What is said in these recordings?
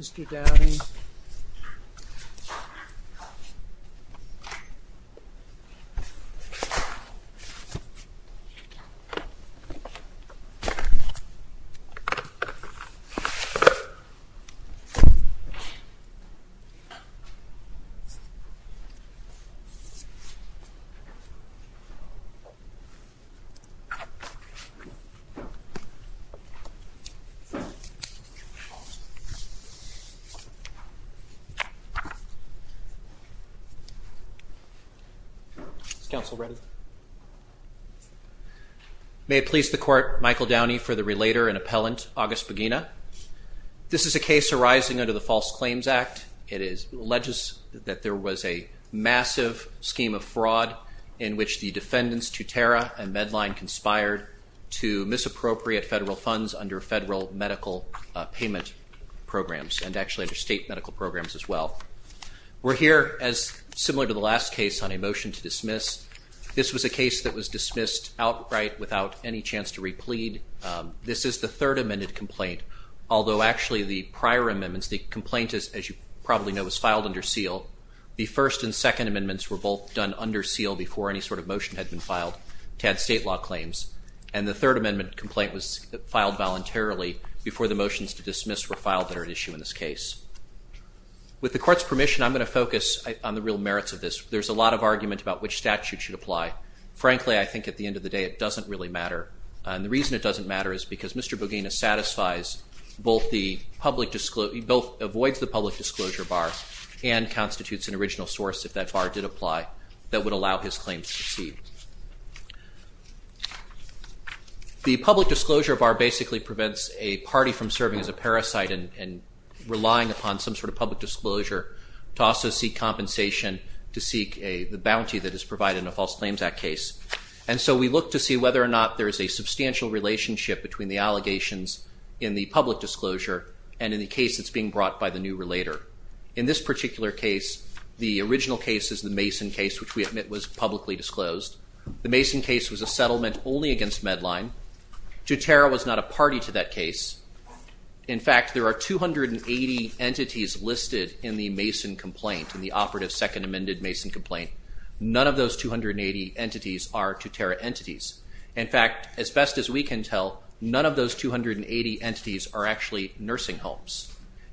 Mr. Dowdy May it please the Court, Michael Downey for the relator and appellant, August Bogina. This is a case arising under the False Claims Act. It alleges that there was a massive scheme of fraud in which the defendants Tutera and medical programs as well. We're here as similar to the last case on a motion to dismiss. This was a case that was dismissed outright without any chance to replead. This is the third amended complaint, although actually the prior amendments, the complaint is, as you probably know, was filed under seal. The first and second amendments were both done under seal before any sort of motion had been filed to add state law claims. And the third amendment complaint was filed voluntarily before the motions to dismiss were filed that are at issue in this case. With the Court's permission, I'm going to focus on the real merits of this. There's a lot of argument about which statute should apply. Frankly, I think at the end of the day it doesn't really matter. And the reason it doesn't matter is because Mr. Bogina satisfies both the public, he both avoids the public disclosure bar and constitutes an original source, if that bar did apply, that would allow his claims to proceed. The public disclosure bar basically prevents a party from serving as a parasite and relying upon some sort of public disclosure to also seek compensation to seek the bounty that is provided in a False Claims Act case. And so we look to see whether or not there is a substantial relationship between the allegations in the public disclosure and in the case that's being brought by the new relator. In this particular case, the original case is the Mason case, which we admit was publicly disclosed. The Mason case was a settlement only against Medline. Tutera was not a party to that case. In fact, there are 280 entities listed in the Mason complaint, in the operative second amended Mason complaint. None of those 280 entities are Tutera entities. In fact, as best as we can tell, none of those 280 entities are actually nursing homes.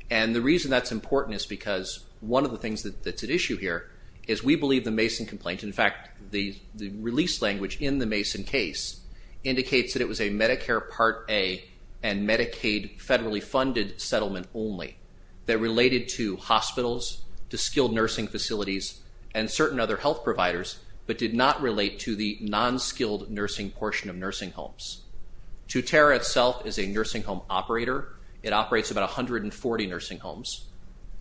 And the reason that's important is because one of the things that's at issue here is we believe the Mason complaint, in fact, the release language in the Mason case, indicates that it was a Medicare Part A and Medicaid federally funded settlement only that related to hospitals, to skilled nursing facilities, and certain other health providers, but did not relate to the non-skilled nursing portion of nursing homes. Tutera itself is a nursing home operator. It operates about 140 nursing homes.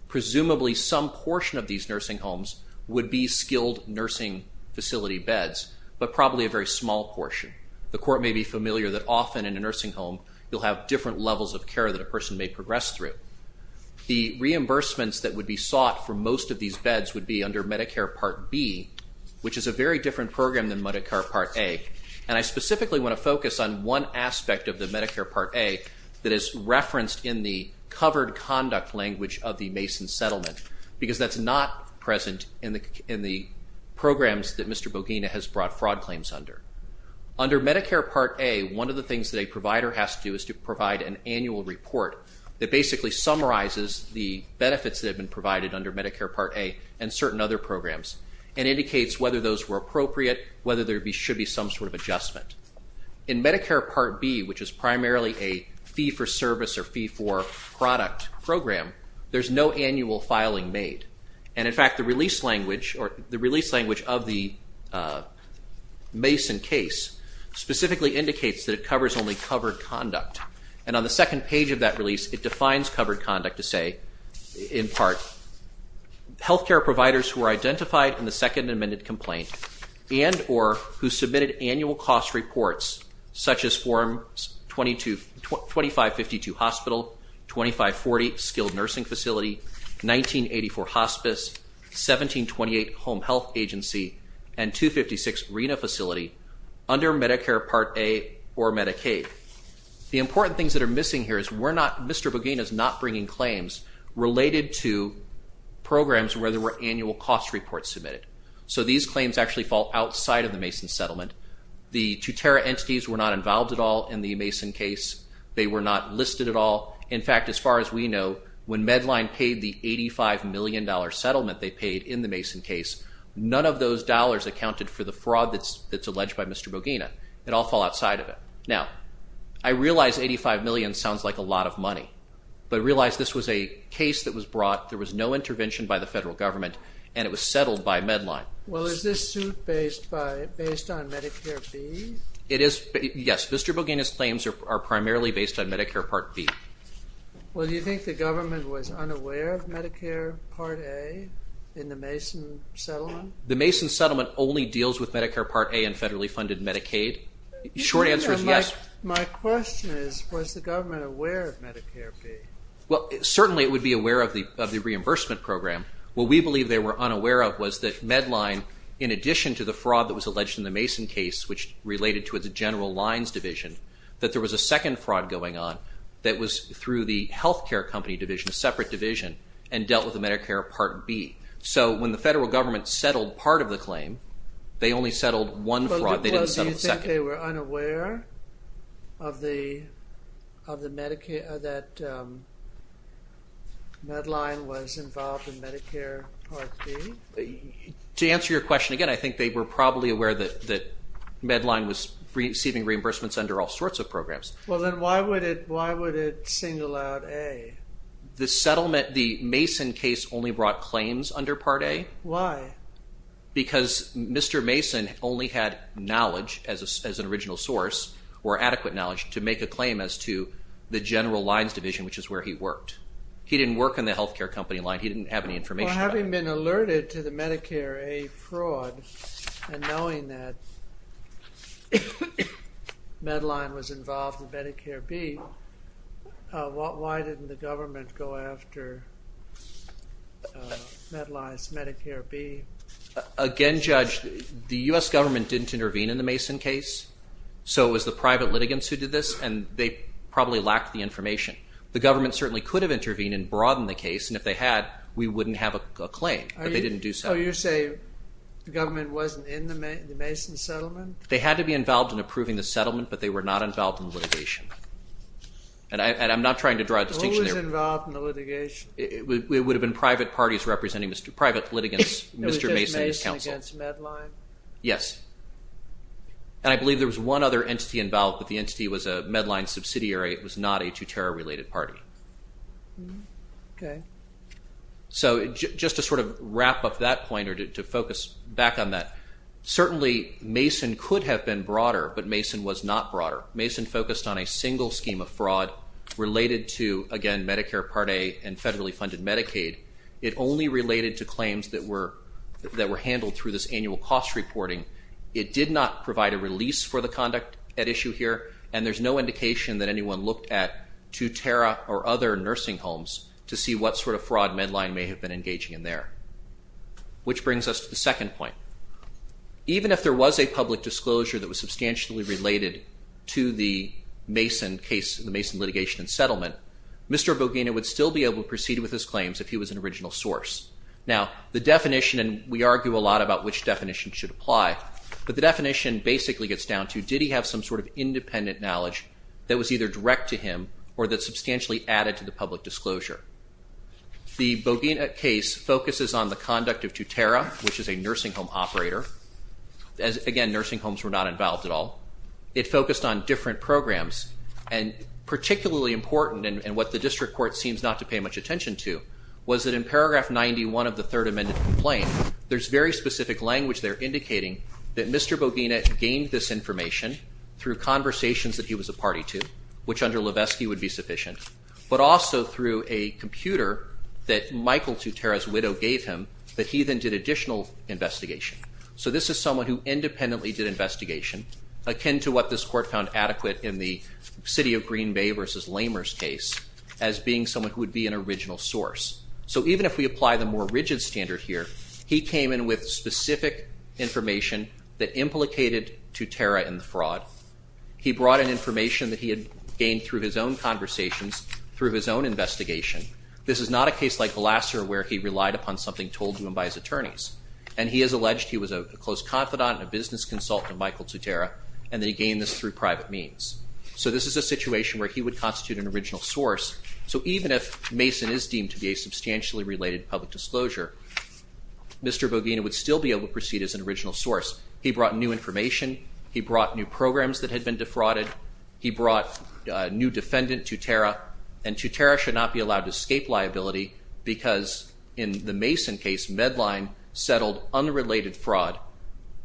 Presumably, some portion of these nursing homes would be skilled nursing facility beds, but probably a very small portion. The court may be familiar that often in a nursing home, you'll have different levels of care that a person may progress through. The reimbursements that would be sought for most of these beds would be under Medicare Part B, which is a very different program than Medicare Part A. And I specifically want to focus on one aspect of the Medicare Part A that is referenced in the covered conduct language of the Mason settlement because that's not present in the programs that Mr. Bogina has brought fraud claims under. Under Medicare Part A, one of the things that a provider has to do is to provide an annual report that basically summarizes the benefits that have been provided under Medicare Part A and certain other programs and indicates whether those were appropriate, whether there should be some sort of adjustment. In Medicare Part B, which is primarily a fee-for-service or fee-for-product program, there's no annual filing made. And in fact, the release language of the Mason case specifically indicates that it covers only covered conduct. And on the second page of that release, it defines covered conduct to say, in part, health care providers who are identified in the second amended complaint and or who submitted annual cost reports, such as Form 2552, Hospital, 2540, Skilled Nursing Facility, 1984, Hospice, 1728, Home Health Agency, and 256, RENA Facility, under Medicare Part A or Medicaid. The important things that are missing here is Mr. Bogina is not bringing claims related to programs where there were annual cost reports submitted. So these claims actually fall outside of the Mason settlement. The two-terra entities were not involved at all in the Mason case. They were not listed at all. In fact, as far as we know, when Medline paid the $85 million settlement they paid in the Mason case, none of those dollars accounted for the fraud that's alleged by Mr. Bogina. It all fell outside of it. Now, I realize $85 million sounds like a lot of money, but realize this was a case that was brought. There was no intervention by the federal government, and it was settled by Medline. Well, is this suit based on Medicare B? It is. Yes. Mr. Bogina's claims are primarily based on Medicare Part B. Well, do you think the government was unaware of Medicare Part A in the Mason settlement? The Mason settlement only deals with Medicare Part A and federally funded Medicaid. The short answer is yes. My question is, was the government aware of Medicare B? Well, certainly it would be aware of the reimbursement program. What we believe they were unaware of was that Medline, in addition to the fraud that was alleged in the Mason case, which related to its General Lines division, that there was a second fraud going on that was through the health care company division, a separate division, and dealt with the Medicare Part B. So when the federal government settled part of the claim, they only settled one fraud. They didn't settle the second. Do you think they were unaware of the Medline was involved in Medicare Part B? To answer your question again, I think they were probably aware that Medline was receiving reimbursements under all sorts of programs. Well, then why would it single out A? The settlement, the Mason case, only brought claims under Part A. Why? Because Mr. Mason only had knowledge as an original source, or adequate knowledge, to make a claim as to the General Lines division, which is where he worked. He didn't work in the health care company line. He didn't have any information about it. Well, having been alerted to the Medicare A fraud, and knowing that Medline was involved in Medicare B, why didn't the government go after Medline's Medicare B? Again, Judge, the US government didn't intervene in the Mason case. So it was the private litigants who did this, and they probably lacked the information. The government certainly could have intervened and broadened the case, and if they had, we wouldn't have a claim. But they didn't do so. Oh, you're saying the government wasn't in the Mason settlement? They had to be involved in approving the settlement, but they were not involved in the litigation. And I'm not trying to draw a distinction there. Who was involved in the litigation? It would have been private parties representing private litigants, Mr. Mason and his counsel. It was just Mason against Medline? Yes. And I believe there was one other entity involved, but the entity was a Medline subsidiary. It was not a Tutero-related party. Okay. So just to sort of wrap up that point or to focus back on that, certainly Mason could have been broader, but Mason was not broader. Mason focused on a single scheme of fraud related to, again, Medicare Part A and federally funded Medicaid. It only related to claims that were handled through this annual cost reporting. It did not provide a release for the conduct at issue here, and there's no indication that sort of fraud Medline may have been engaging in there. Which brings us to the second point. Even if there was a public disclosure that was substantially related to the Mason case, the Mason litigation and settlement, Mr. Bogina would still be able to proceed with his claims if he was an original source. Now the definition, and we argue a lot about which definition should apply, but the definition basically gets down to did he have some sort of independent knowledge that was either direct to him or that substantially added to the public disclosure. The Bogina case focuses on the conduct of Tutera, which is a nursing home operator. Again, nursing homes were not involved at all. It focused on different programs, and particularly important and what the district court seems not to pay much attention to was that in paragraph 91 of the Third Amendment complaint, there's very specific language there indicating that Mr. Bogina gained this information through conversations that he was a party to, which under Levesky would be sufficient, but also through a computer that Michael Tutera's widow gave him that he then did additional investigation. So this is someone who independently did investigation, akin to what this court found adequate in the city of Green Bay versus Lamer's case as being someone who would be an original source. So even if we apply the more rigid standard here, he came in with specific information that implicated Tutera in the fraud. He brought in information that he had gained through his own conversations, through his own investigation. This is not a case like Vlaser where he relied upon something told to him by his attorneys. And he has alleged he was a close confidant and a business consultant of Michael Tutera, and that he gained this through private means. So this is a situation where he would constitute an original source. So even if Mason is deemed to be a substantially related public disclosure, Mr. Bogina would still be able to proceed as an original source. He brought new information. He brought new programs that had been defrauded. He brought a new defendant, Tutera. And Tutera should not be allowed to escape liability because in the Mason case, Medline settled unrelated fraud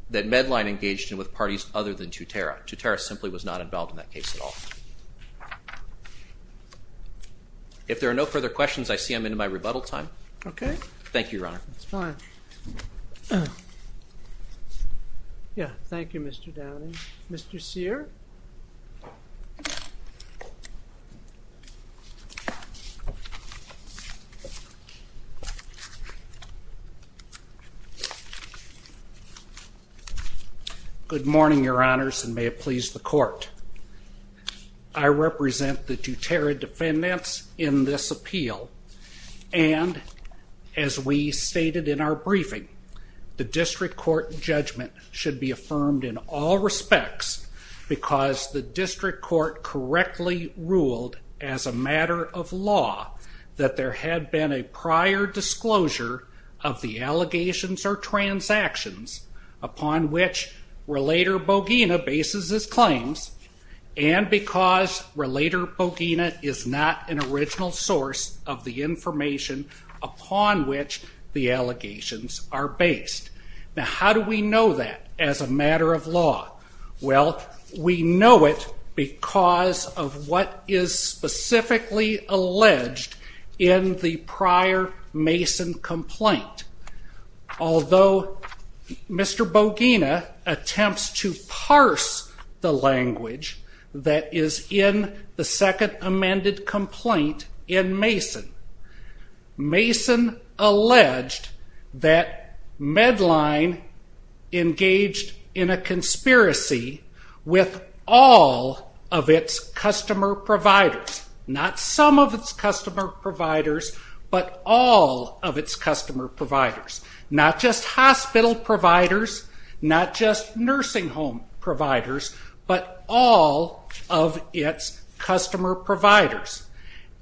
that Medline engaged in with parties other than Tutera. Tutera simply was not involved in that case at all. If there are no further questions, I see I'm into my rebuttal time. Okay. Thank you, Your Honor. That's fine. Yeah. Thank you, Mr. Downing. Mr. Sear? Good morning, Your Honors, and may it please the Court. I represent the Tutera defendants in this appeal. And as we stated in our briefing, the district court judgment should be affirmed in all respects because the district court correctly ruled as a matter of law that there had been a prior disclosure of the allegations or transactions upon which Relator Bogina bases his claims and because Relator Bogina is not an original source of the information upon which the allegations are based. Now, how do we know that as a matter of law? Well, we know it because of what is specifically alleged in the prior Mason complaint. Although Mr. Bogina attempts to parse the language that is in the second amended complaint in Mason, Mason alleged that Medline engaged in a conspiracy with all of its customer providers, not some of its customer providers, but all of its customer providers, not just hospital providers, not just nursing home providers, but all of its customer providers.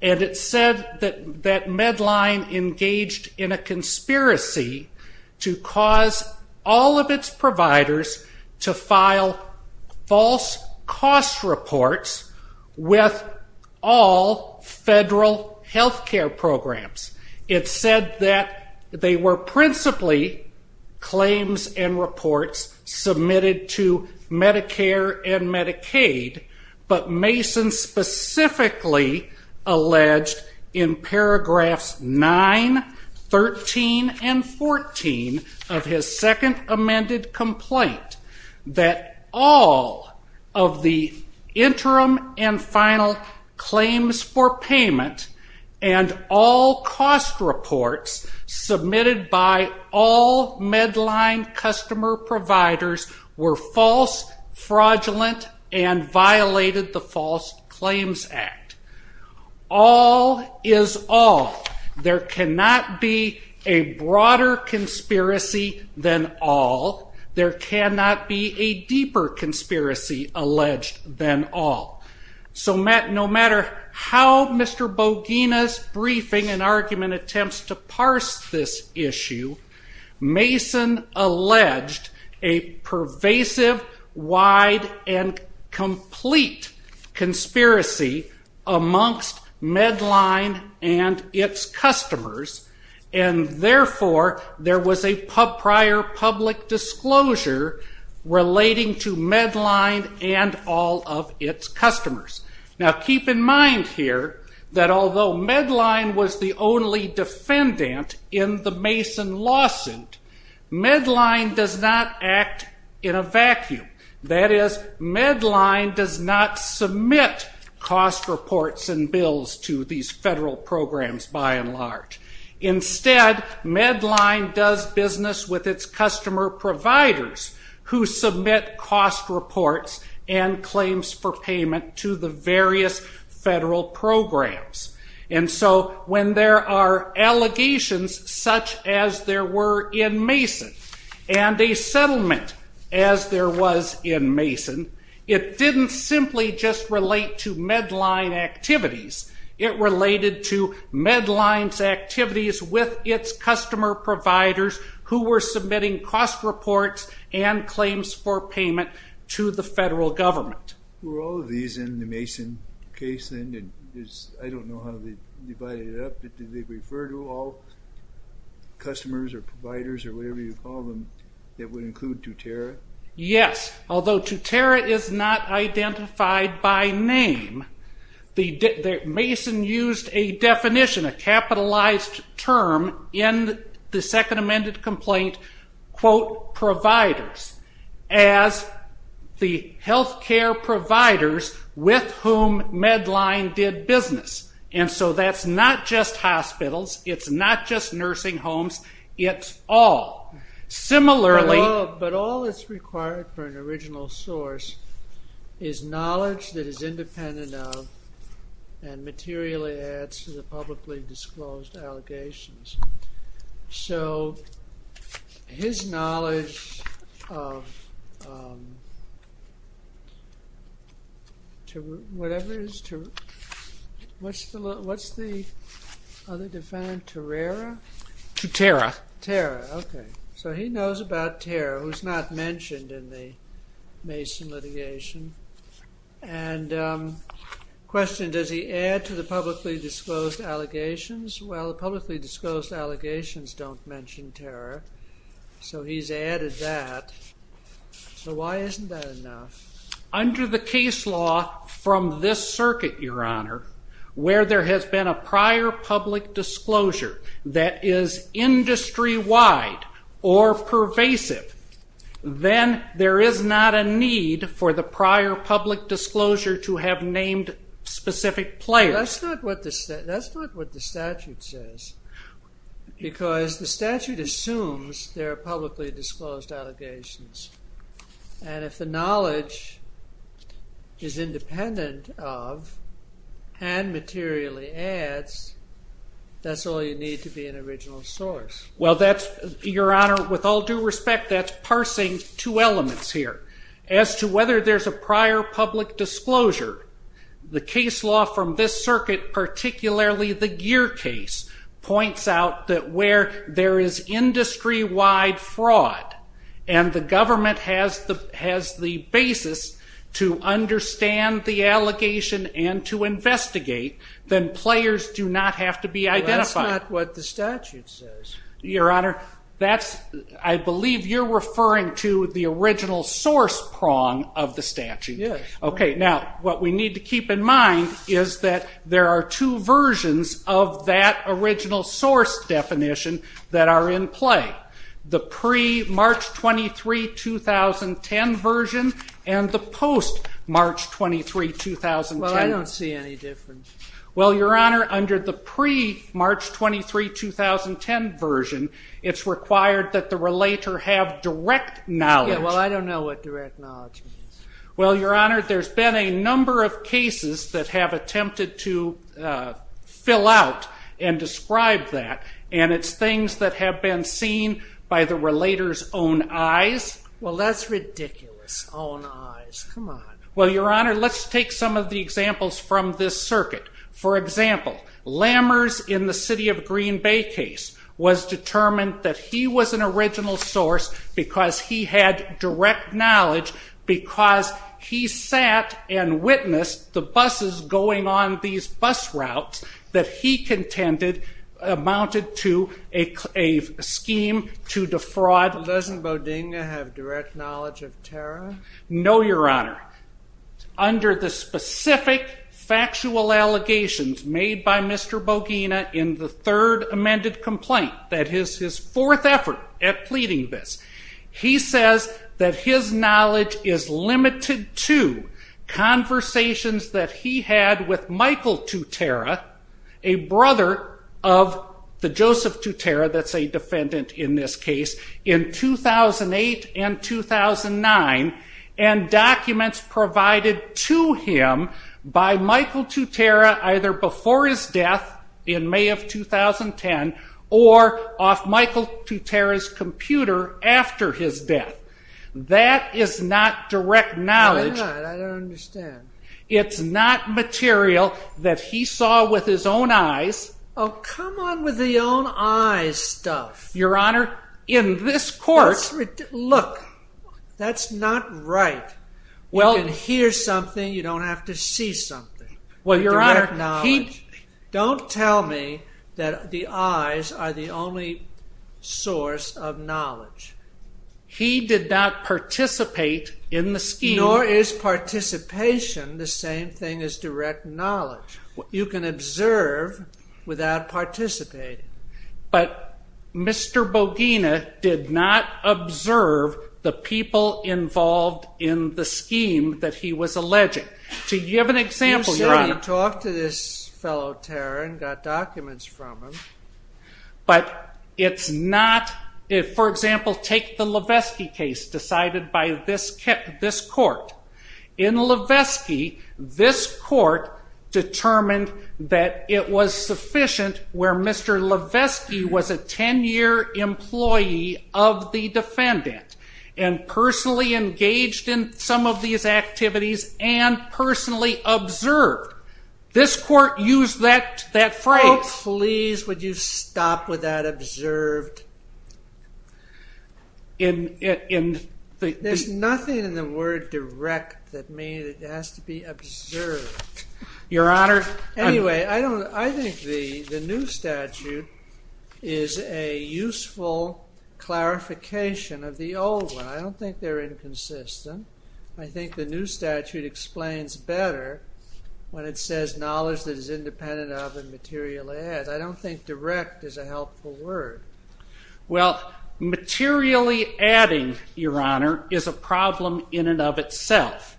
And it said that Medline engaged in a conspiracy to cause all of its providers to file false cost reports with all federal healthcare programs. It said that they were principally claims and reports submitted to Medicare and Medicaid, but Mason specifically alleged in paragraphs 9, 13, and 14 of his second amended complaint that all of the interim and final claims for payment and all cost reports submitted by all Medline customer providers were false, fraudulent, and violated the False Claims Act. All is all. There cannot be a broader conspiracy than all. There cannot be a deeper conspiracy alleged than all. So no matter how Mr. Bogina's briefing and argument attempts to parse this issue, Mason alleged a pervasive, wide, and complete conspiracy amongst Medline and its customers, and therefore there was a prior public disclosure relating to Medline and all of its customers. Now keep in mind here that although Medline was the only defendant in the Mason lawsuit, Medline does not act in a vacuum. That is, Medline does not submit cost reports and bills to these federal programs by and large. Instead, Medline does business with its customer providers who submit cost reports and claims for payment to the various federal programs. When there are allegations such as there were in Mason and a settlement as there was in Mason, it didn't simply just relate to Medline activities. It related to Medline's activities with its customer providers who were submitting cost reports and claims for payment to the federal government. Were all of these in the Mason case then? I don't know how they divided it up, but did they refer to all customers or providers or whatever you call them that would include Tutera? Yes, although Tutera is not identified by name. Mason used a definition, a capitalized term, in the second amended complaint, quote, providers as the health care providers with whom Medline did business. And so that's not just hospitals. It's not just nursing homes. It's all. But all that's required for an original source is knowledge that is independent of and materially adds to the publicly disclosed allegations. So his knowledge of whatever it is, what's the other definite, Turera? Turera, okay. So he knows about Turera, who's not mentioned in the Mason litigation. And question, does he add to the publicly disclosed allegations? Well, the publicly disclosed allegations don't mention Turera, so he's added that. So why isn't that enough? Under the case law from this circuit, Your Honor, where there has been a prior public disclosure that is industry-wide or pervasive, then there is not a need for the prior public disclosure to have named specific players. That's not what the statute says, because the statute assumes there are publicly disclosed allegations. And if the knowledge is independent of and materially adds, that's all you need to be an original source. Well, Your Honor, with all due respect, that's parsing two elements here. As to whether there's a prior public disclosure, the case law from this circuit, particularly the Gear case, points out that where there is industry-wide fraud and the government has the basis to understand the allegation and to investigate, then players do not have to be identified. Well, that's not what the statute says. Your Honor, I believe you're referring to the original source prong of the statute. Yes. Okay. Now, what we need to keep in mind is that there are two versions of that original source definition that are in play, the pre-March 23, 2010 version and the post-March 23, 2010. Well, I don't see any difference. Well, Your Honor, under the pre-March 23, 2010 version, it's required that the relator have direct knowledge. Yeah, well, I don't know what direct knowledge means. Well, Your Honor, there's been a number of cases that have attempted to fill out and describe that, and it's things that have been seen by the relator's own eyes. Well, that's ridiculous, own eyes. Come on. Well, Your Honor, let's take some of the examples from this circuit. For example, Lammers in the City of Green Bay case was determined that he was an original source because he had direct knowledge because he sat and witnessed the buses going on these bus routes that he contended amounted to a scheme to defraud. Doesn't Bodega have direct knowledge of Tara? No, Your Honor. Under the specific factual allegations made by Mr. Bodega in the third amended complaint, that is his fourth effort at pleading this, he says that his knowledge is limited to conversations that he had with Michael Tutera, a brother of the Joseph Tutera that's a defendant in this case, in 2008 and 2009, and documents provided to him by Michael Tutera either before his death in May of 2010 or off Michael Tutera's computer after his death. That is not direct knowledge. Probably not. I don't understand. It's not material that he saw with his own eyes. Oh, come on with the own eyes stuff. Your Honor, in this court... Look, that's not right. You can hear something, you don't have to see something. Well, Your Honor, he... His eyes are the only source of knowledge. He did not participate in the scheme. Nor is participation the same thing as direct knowledge. You can observe without participating. But Mr. Bodega did not observe the people involved in the scheme that he was alleging. To give an example, Your Honor... But it's not... For example, take the Levesky case decided by this court. In Levesky, this court determined that it was sufficient where Mr. Levesky was a 10-year employee of the defendant and personally engaged in some of these activities and personally observed. This court used that phrase... Stop with that observed. There's nothing in the word direct that means it has to be observed. Your Honor... Anyway, I think the new statute is a useful clarification of the old one. I don't think they're inconsistent. I think the new statute explains better when it says knowledge that is independent of and materialized. I don't think direct is a helpful word. Well, materially adding, Your Honor, is a problem in and of itself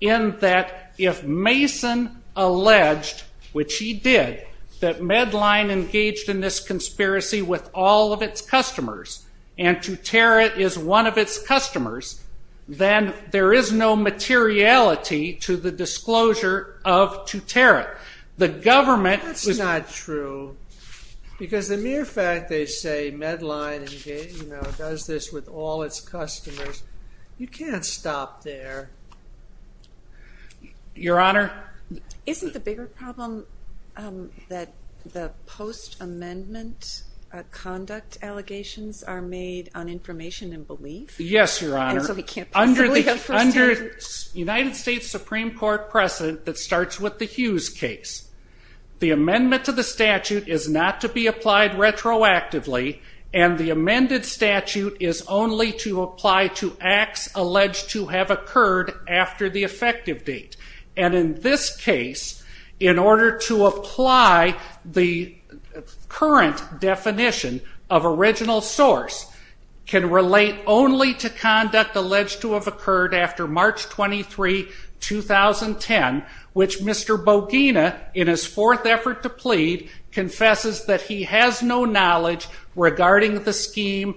in that if Mason alleged, which he did, that Medline engaged in this conspiracy with all of its customers and Tuterit is one of its customers, then there is no materiality to the disclosure of Tuterit. That's not true. Because the mere fact they say Medline does this with all its customers, you can't stop there. Your Honor... Isn't the bigger problem that the post-amendment conduct allegations are made on information and belief? Yes, Your Honor. And so we can't possibly have first-hand... Under United States Supreme Court precedent that starts with the Hughes case, the amendment to the statute is not to be applied retroactively, and the amended statute is only to apply to acts alleged to have occurred after the effective date. And in this case, in order to apply the current definition of original source, can relate only to conduct alleged to have occurred after March 23, 2010, which Mr. Bogina, in his fourth effort to plead, confesses that he has no knowledge regarding the scheme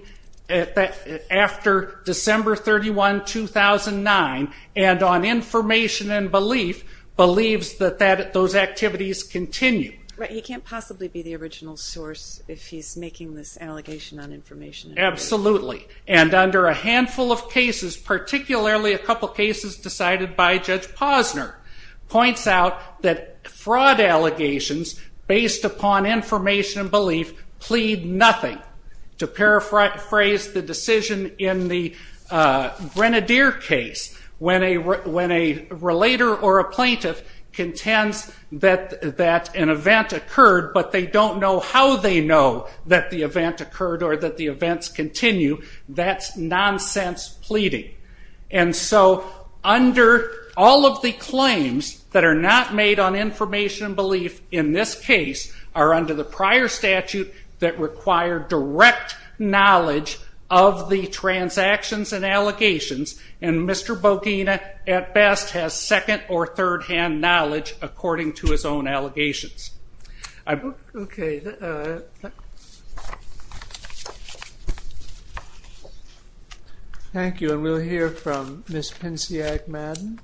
after December 31, 2009, and on information and belief, believes that those activities continue. But he can't possibly be the original source if he's making this allegation on information and belief. Absolutely. And under a handful of cases, particularly a couple cases decided by Judge Posner, points out that fraud allegations based upon information and belief plead nothing. To paraphrase the decision in the Grenadier case, when a relator or a plaintiff contends that an event occurred but they don't know how they know that the event occurred or that the events continue, that's nonsense pleading. And so under all of the claims that are not made on information and belief in this case are under the prior statute that require direct knowledge of the transactions and allegations, and Mr. Bogina at best has second- or third-hand knowledge according to his own allegations. Okay. Thank you. And we'll hear from Ms. Pinciak Madden.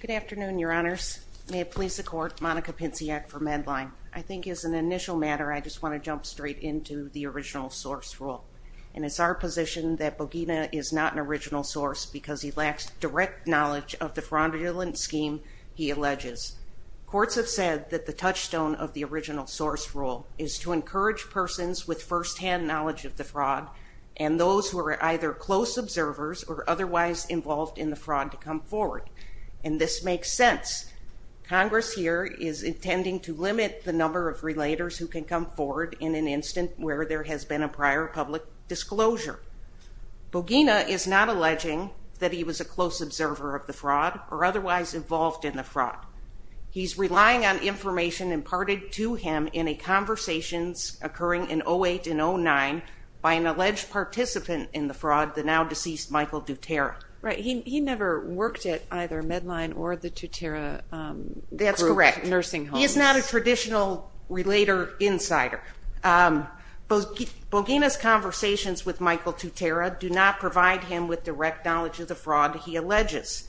Good afternoon, Your Honors. May it please the Court, Monica Pinciak for Medline. I think as an initial matter, I just want to jump straight into the original source rule, and it's our position that Bogina is not an original source because he lacks direct knowledge of the fraudulent scheme he alleges. Courts have said that the touchstone of the original source rule is to encourage persons with first-hand knowledge of the fraud and those who are either close observers or otherwise involved in the fraud to come forward, and this makes sense. Congress here is intending to limit the number of relators who can come forward in an instant where there has been a prior public disclosure. Bogina is not alleging that he was a close observer of the fraud or otherwise involved in the fraud. He's relying on information imparted to him in a conversation occurring in 08 and 09 by an alleged participant in the fraud, the now-deceased Michael Dutera. Right. He never worked at either Medline or the Dutera group nursing homes. That's correct. He is not a traditional relator insider. Bogina's conversations with Michael Dutera do not provide him with direct knowledge of the fraud he alleges.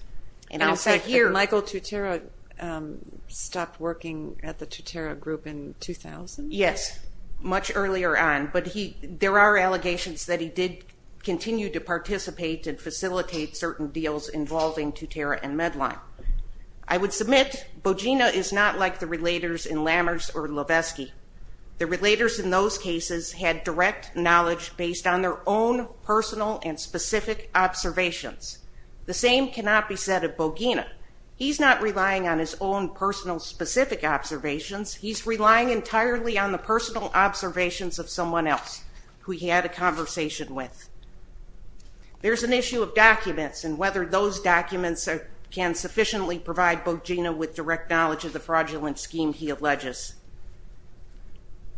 And in fact, Michael Dutera stopped working at the Dutera group in 2000? Yes, much earlier on, but there are allegations that he did continue to participate and facilitate certain deals involving Dutera and Medline. I would submit Bogina is not like the relators in Lammers or Lovesky. The relators in those cases had direct knowledge based on their own personal and specific observations. The same cannot be said of Bogina. He's not relying on his own personal specific observations. He's relying entirely on the personal observations of someone else who he had a conversation with. There's an issue of documents and whether those documents can sufficiently provide Bogina with direct knowledge of the fraudulent scheme he alleges.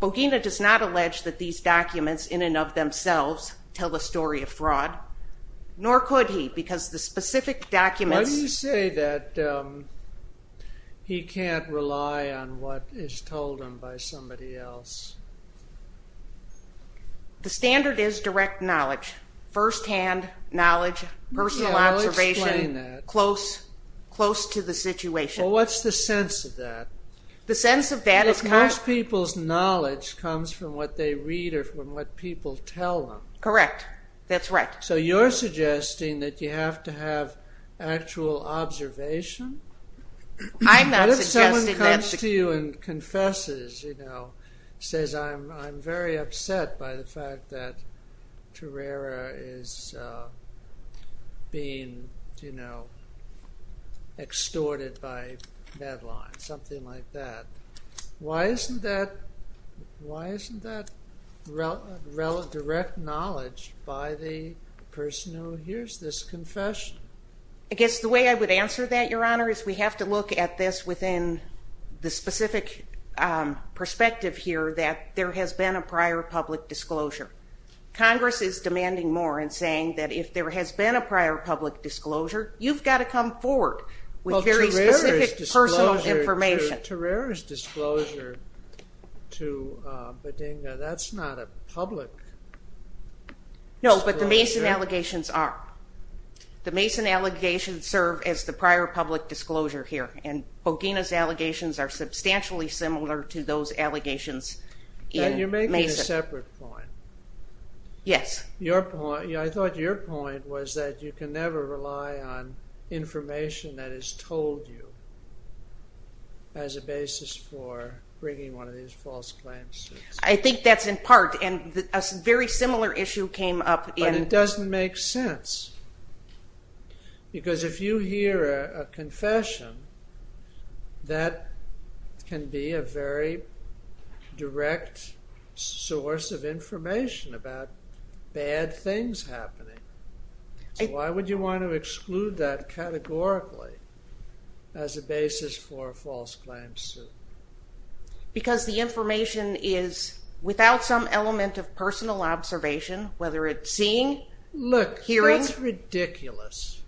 Bogina does not allege that these documents in and of themselves tell a story of fraud, nor could he, because the specific documents... Why do you say that he can't rely on what is told him by somebody else? The standard is direct knowledge, first-hand knowledge, personal observation... Yeah, I'll explain that. ...close to the situation. Well, what's the sense of that? The sense of that is... Most people's knowledge comes from what they read or from what people tell them. Correct. That's right. So you're suggesting that you have to have actual observation? I'm not suggesting that... Because I'm very upset by the fact that Tererra is being, you know, extorted by deadline, something like that. Why isn't that direct knowledge by the person who hears this confession? I guess the way I would answer that, Your Honour, is we have to look at this within the specific perspective here that there has been a prior public disclosure. Congress is demanding more and saying that if there has been a prior public disclosure, you've got to come forward with very specific personal information. Well, Tererra's disclosure to Bodinga, that's not a public disclosure. No, but the Mason allegations are. The Mason allegations serve as the prior public disclosure here, and Bodinga's allegations are substantially similar to those allegations in Mason. You're making a separate point. Yes. I thought your point was that you can never rely on information that is told you as a basis for bringing one of these false claims. I think that's in part, and a very similar issue came up in... that can be a very direct source of information about bad things happening. So why would you want to exclude that categorically as a basis for a false claim suit? Because the information is without some element of personal observation, whether it's seeing, hearing. Look, that's ridiculous.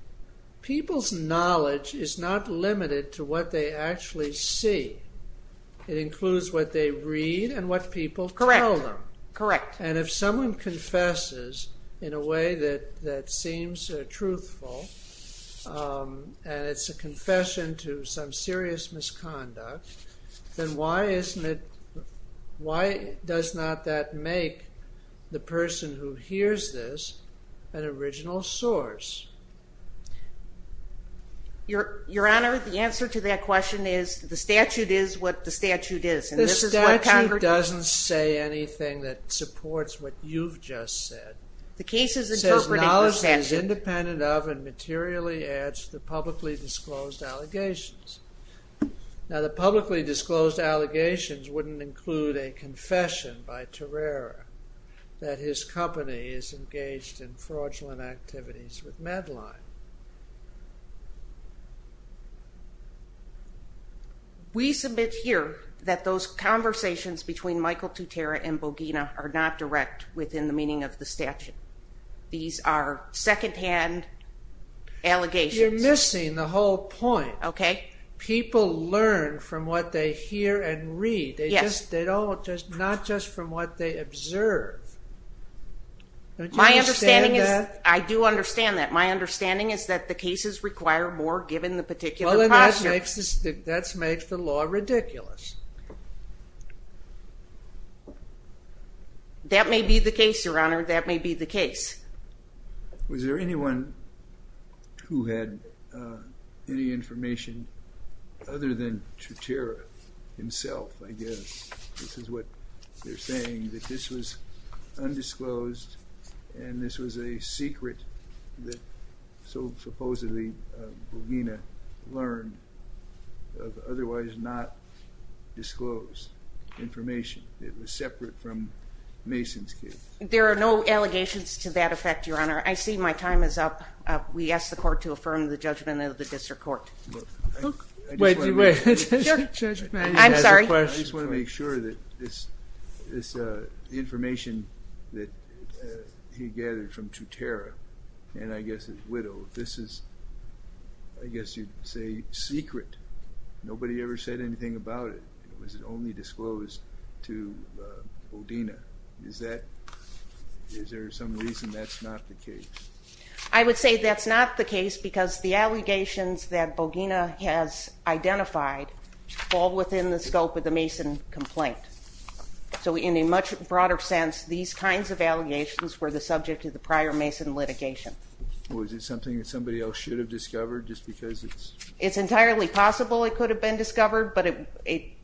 People's knowledge is not limited to what they actually see. It includes what they read and what people tell them. Correct. And if someone confesses in a way that seems truthful, and it's a confession to some serious misconduct, then why does not that make the person who hears this an original source? Your Honor, the answer to that question is the statute is what the statute is. The statute doesn't say anything that supports what you've just said. It says knowledge is independent of and materially adds to the publicly disclosed allegations. Now, the publicly disclosed allegations wouldn't include a confession by Tererra that his company is engaged in fraudulent activities with Medline. We submit here that those conversations between Michael Tutera and Bogina are not direct within the meaning of the statute. These are second-hand allegations. You're missing the whole point. People learn from what they hear and read, not just from what they observe. Don't you understand that? I do understand that. My understanding is that the cases require more, given the particular posture. That makes the law ridiculous. That may be the case, Your Honor. That may be the case. Was there anyone who had any information other than Tutera himself, I guess? This is what they're saying, that this was undisclosed and this was a secret that supposedly Bogina learned of otherwise not disclosed information. It was separate from Mason's case. There are no allegations to that effect, Your Honor. I see my time is up. We ask the Court to affirm the judgment of the District Court. I'm sorry. I just want to make sure that this information that he gathered from Tutera and, I guess, his widow, this is, I guess you'd say, secret. Nobody ever said anything about it. It was only disclosed to Bogina. Is there some reason that's not the case? I would say that's not the case because the allegations that Bogina has identified fall within the scope of the Mason complaint. So in a much broader sense, these kinds of allegations were the subject of the prior Mason litigation. Was it something that somebody else should have discovered just because it's? It's entirely possible it could have been discovered, but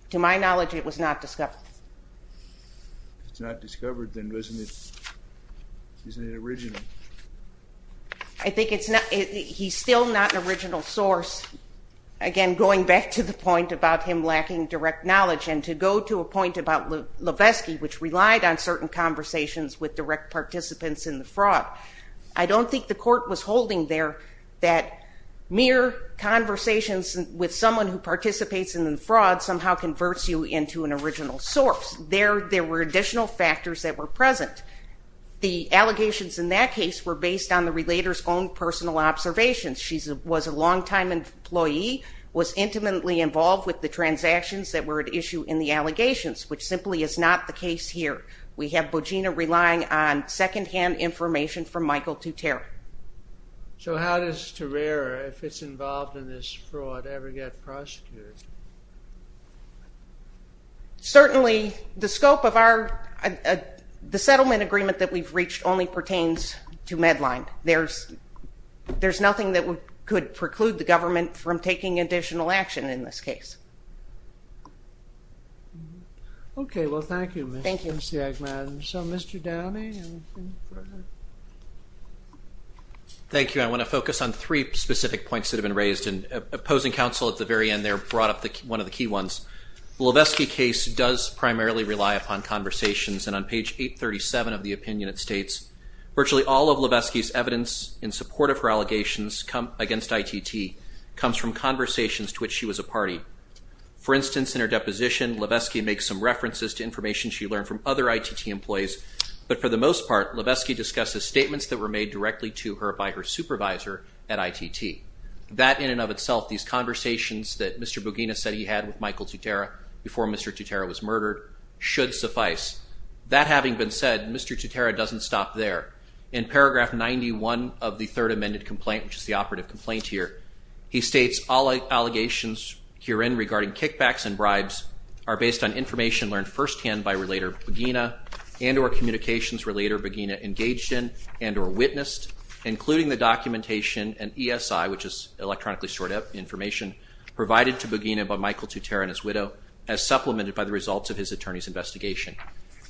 to my knowledge, it was not discovered. If it's not discovered, then isn't it original? I think it's not. He's still not an original source. Again, going back to the point about him lacking direct knowledge and to go to a point about Levesky, which relied on certain conversations with direct participants in the fraud, I don't think the Court was holding there that mere conversations with someone who participates in the fraud somehow converts you into an original source. There were additional factors that were present. The allegations in that case were based on the relator's own personal observations. She was a long-time employee, was intimately involved with the transactions that were at issue in the allegations, which simply is not the case here. We have Bogina relying on second-hand information from Michael Tutera. So how does Tutera, if it's involved in this fraud, ever get prosecuted? Certainly, the scope of our... The settlement agreement that we've reached only pertains to Medline. There's nothing that could preclude the government from taking additional action in this case. Okay, well, thank you, Ms. Stiegman. So, Mr. Downey? Thank you. I want to focus on three specific points that have been raised. Opposing counsel at the very end there brought up one of the key ones. The Levesky case does primarily rely upon conversations, and on page 837 of the opinion it states, virtually all of Levesky's evidence in support of her allegations against ITT comes from conversations to which she was a party. For instance, in her deposition, Levesky makes some references to information she learned from other ITT employees, but for the most part, Levesky discusses statements that were made directly to her by her supervisor at ITT. That, in and of itself, these conversations that Mr. Bugina said he had with Michael Tutera before Mr. Tutera was murdered, should suffice. That having been said, Mr. Tutera doesn't stop there. In paragraph 91 of the Third Amended Complaint, which is the operative complaint here, he states, all allegations herein regarding kickbacks and bribes are based on information learned firsthand by Relator Bugina and or Communications Relator Bugina engaged in and or witnessed, including the documentation and ESI, which is electronically stored information, provided to Bugina by Michael Tutera and his widow, as supplemented by the results of his attorney's investigation.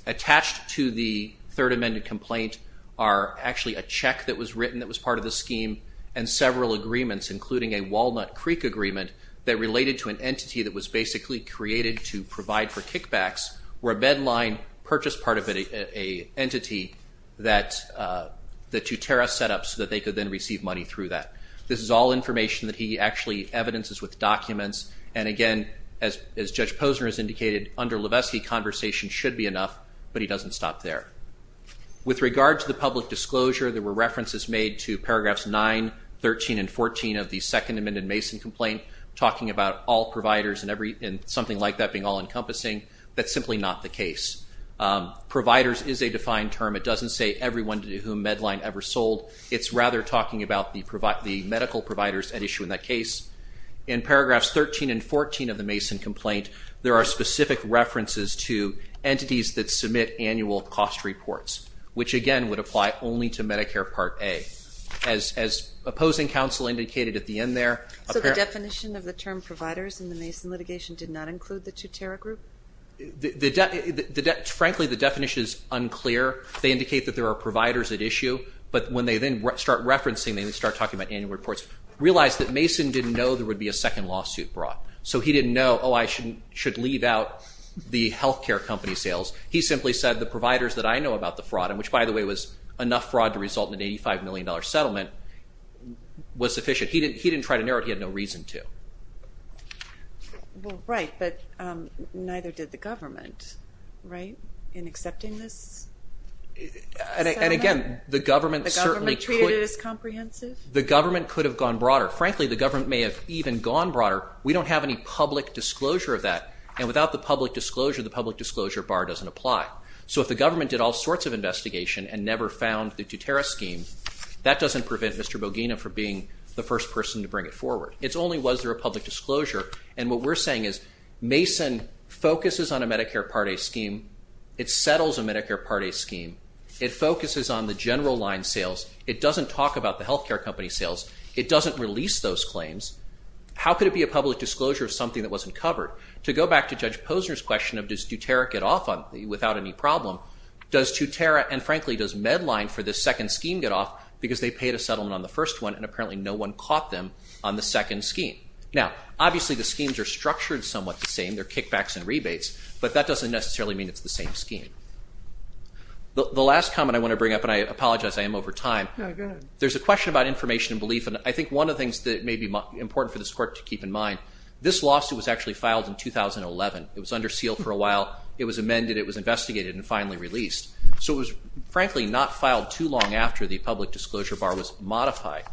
Attached to the Third Amended Complaint are actually a check that was written that was part of the scheme and several agreements, including a Walnut Creek agreement that related to an entity that was basically created to provide for kickbacks, where a bedline purchased part of an entity that Tutera set up so that they could then receive money through that. This is all information that he actually evidences with documents, and again, as Judge Posner has indicated, under Levesque, conversation should be enough, but he doesn't stop there. With regard to the public disclosure, there were references made to paragraphs 9, 13, and 14 of the Second Amended Mason Complaint, talking about all providers and something like that being all-encompassing. That's simply not the case. Providers is a defined term. It doesn't say everyone to whom bedline ever sold. It's rather talking about the medical providers at issue in that case. In paragraphs 13 and 14 of the Mason Complaint, there are specific references to entities that submit annual cost reports, which again would apply only to Medicare Part A. As Opposing Counsel indicated at the end there... So the definition of the term providers in the Mason litigation did not include the Tutera group? Frankly, the definition is unclear. They indicate that there are providers at issue, but when they then start referencing, they start talking about annual reports. Realize that Mason didn't know there would be a second lawsuit brought, so he didn't know, oh, I should leave out the health care company sales. He simply said the providers that I know about the fraud in, which by the way was enough fraud to result in an $85 million settlement, was sufficient. He didn't try to narrow it. He had no reason to. Well, right, but neither did the government, right, in accepting this settlement? And again, the government certainly could... The government treated it as comprehensive? The government could have gone broader. Frankly, the government may have even gone broader. We don't have any public disclosure of that, and without the public disclosure, the public disclosure bar doesn't apply. So if the government did all sorts of investigation and never found the Tutera scheme, that doesn't prevent Mr. Bogina from being the first person to bring it forward. It's only was there a public disclosure, and what we're saying is Mason focuses on a Medicare Part A scheme. It settles a Medicare Part A scheme. It focuses on the general line sales. It doesn't talk about the health care company sales. It doesn't release those claims. How could it be a public disclosure of something that wasn't covered? To go back to Judge Posner's question of does Tutera get off without any problem, does Tutera, and frankly, does Medline for this second scheme get off because they paid a settlement on the first one and apparently no one caught them on the second scheme? Now, obviously the schemes are structured somewhat the same. They're kickbacks and rebates, but that doesn't necessarily mean it's the same scheme. The last comment I want to bring up, and I apologize, I am over time. There's a question about information and belief, and I think one of the things that may be important for this court to keep in mind, this lawsuit was actually filed in 2011. It was under seal for a while. It was amended. It was investigated and finally released. So it was, frankly, not filed too long after the public disclosure bar was modified.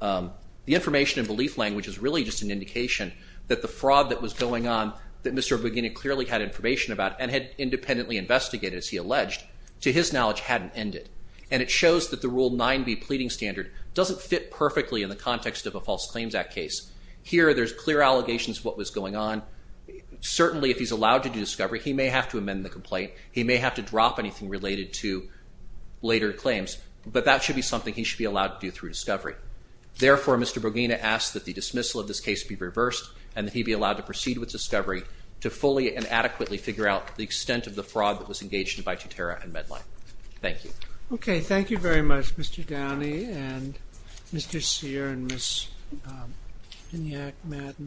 The information and belief language is really just an indication that the fraud that was going on that Mr. Bugini clearly had information about and had independently investigated, as he alleged, to his knowledge hadn't ended, and it shows that the Rule 9b pleading standard doesn't fit perfectly in the context of a False Claims Act case. Here there's clear allegations of what was going on. Certainly, if he's allowed to do discovery, he may have to amend the complaint. He may have to drop anything related to later claims, but that should be something he should be allowed to do through discovery. Therefore, Mr. Bugini asks that the dismissal of this case be reversed and that he be allowed to proceed with discovery to fully and adequately figure out the extent of the fraud that was engaged by Tutera and Medline. Thank you. Okay, thank you very much, Mr. Downey and Mr. Cyr and Ms. Minyak, Matt, and Bob.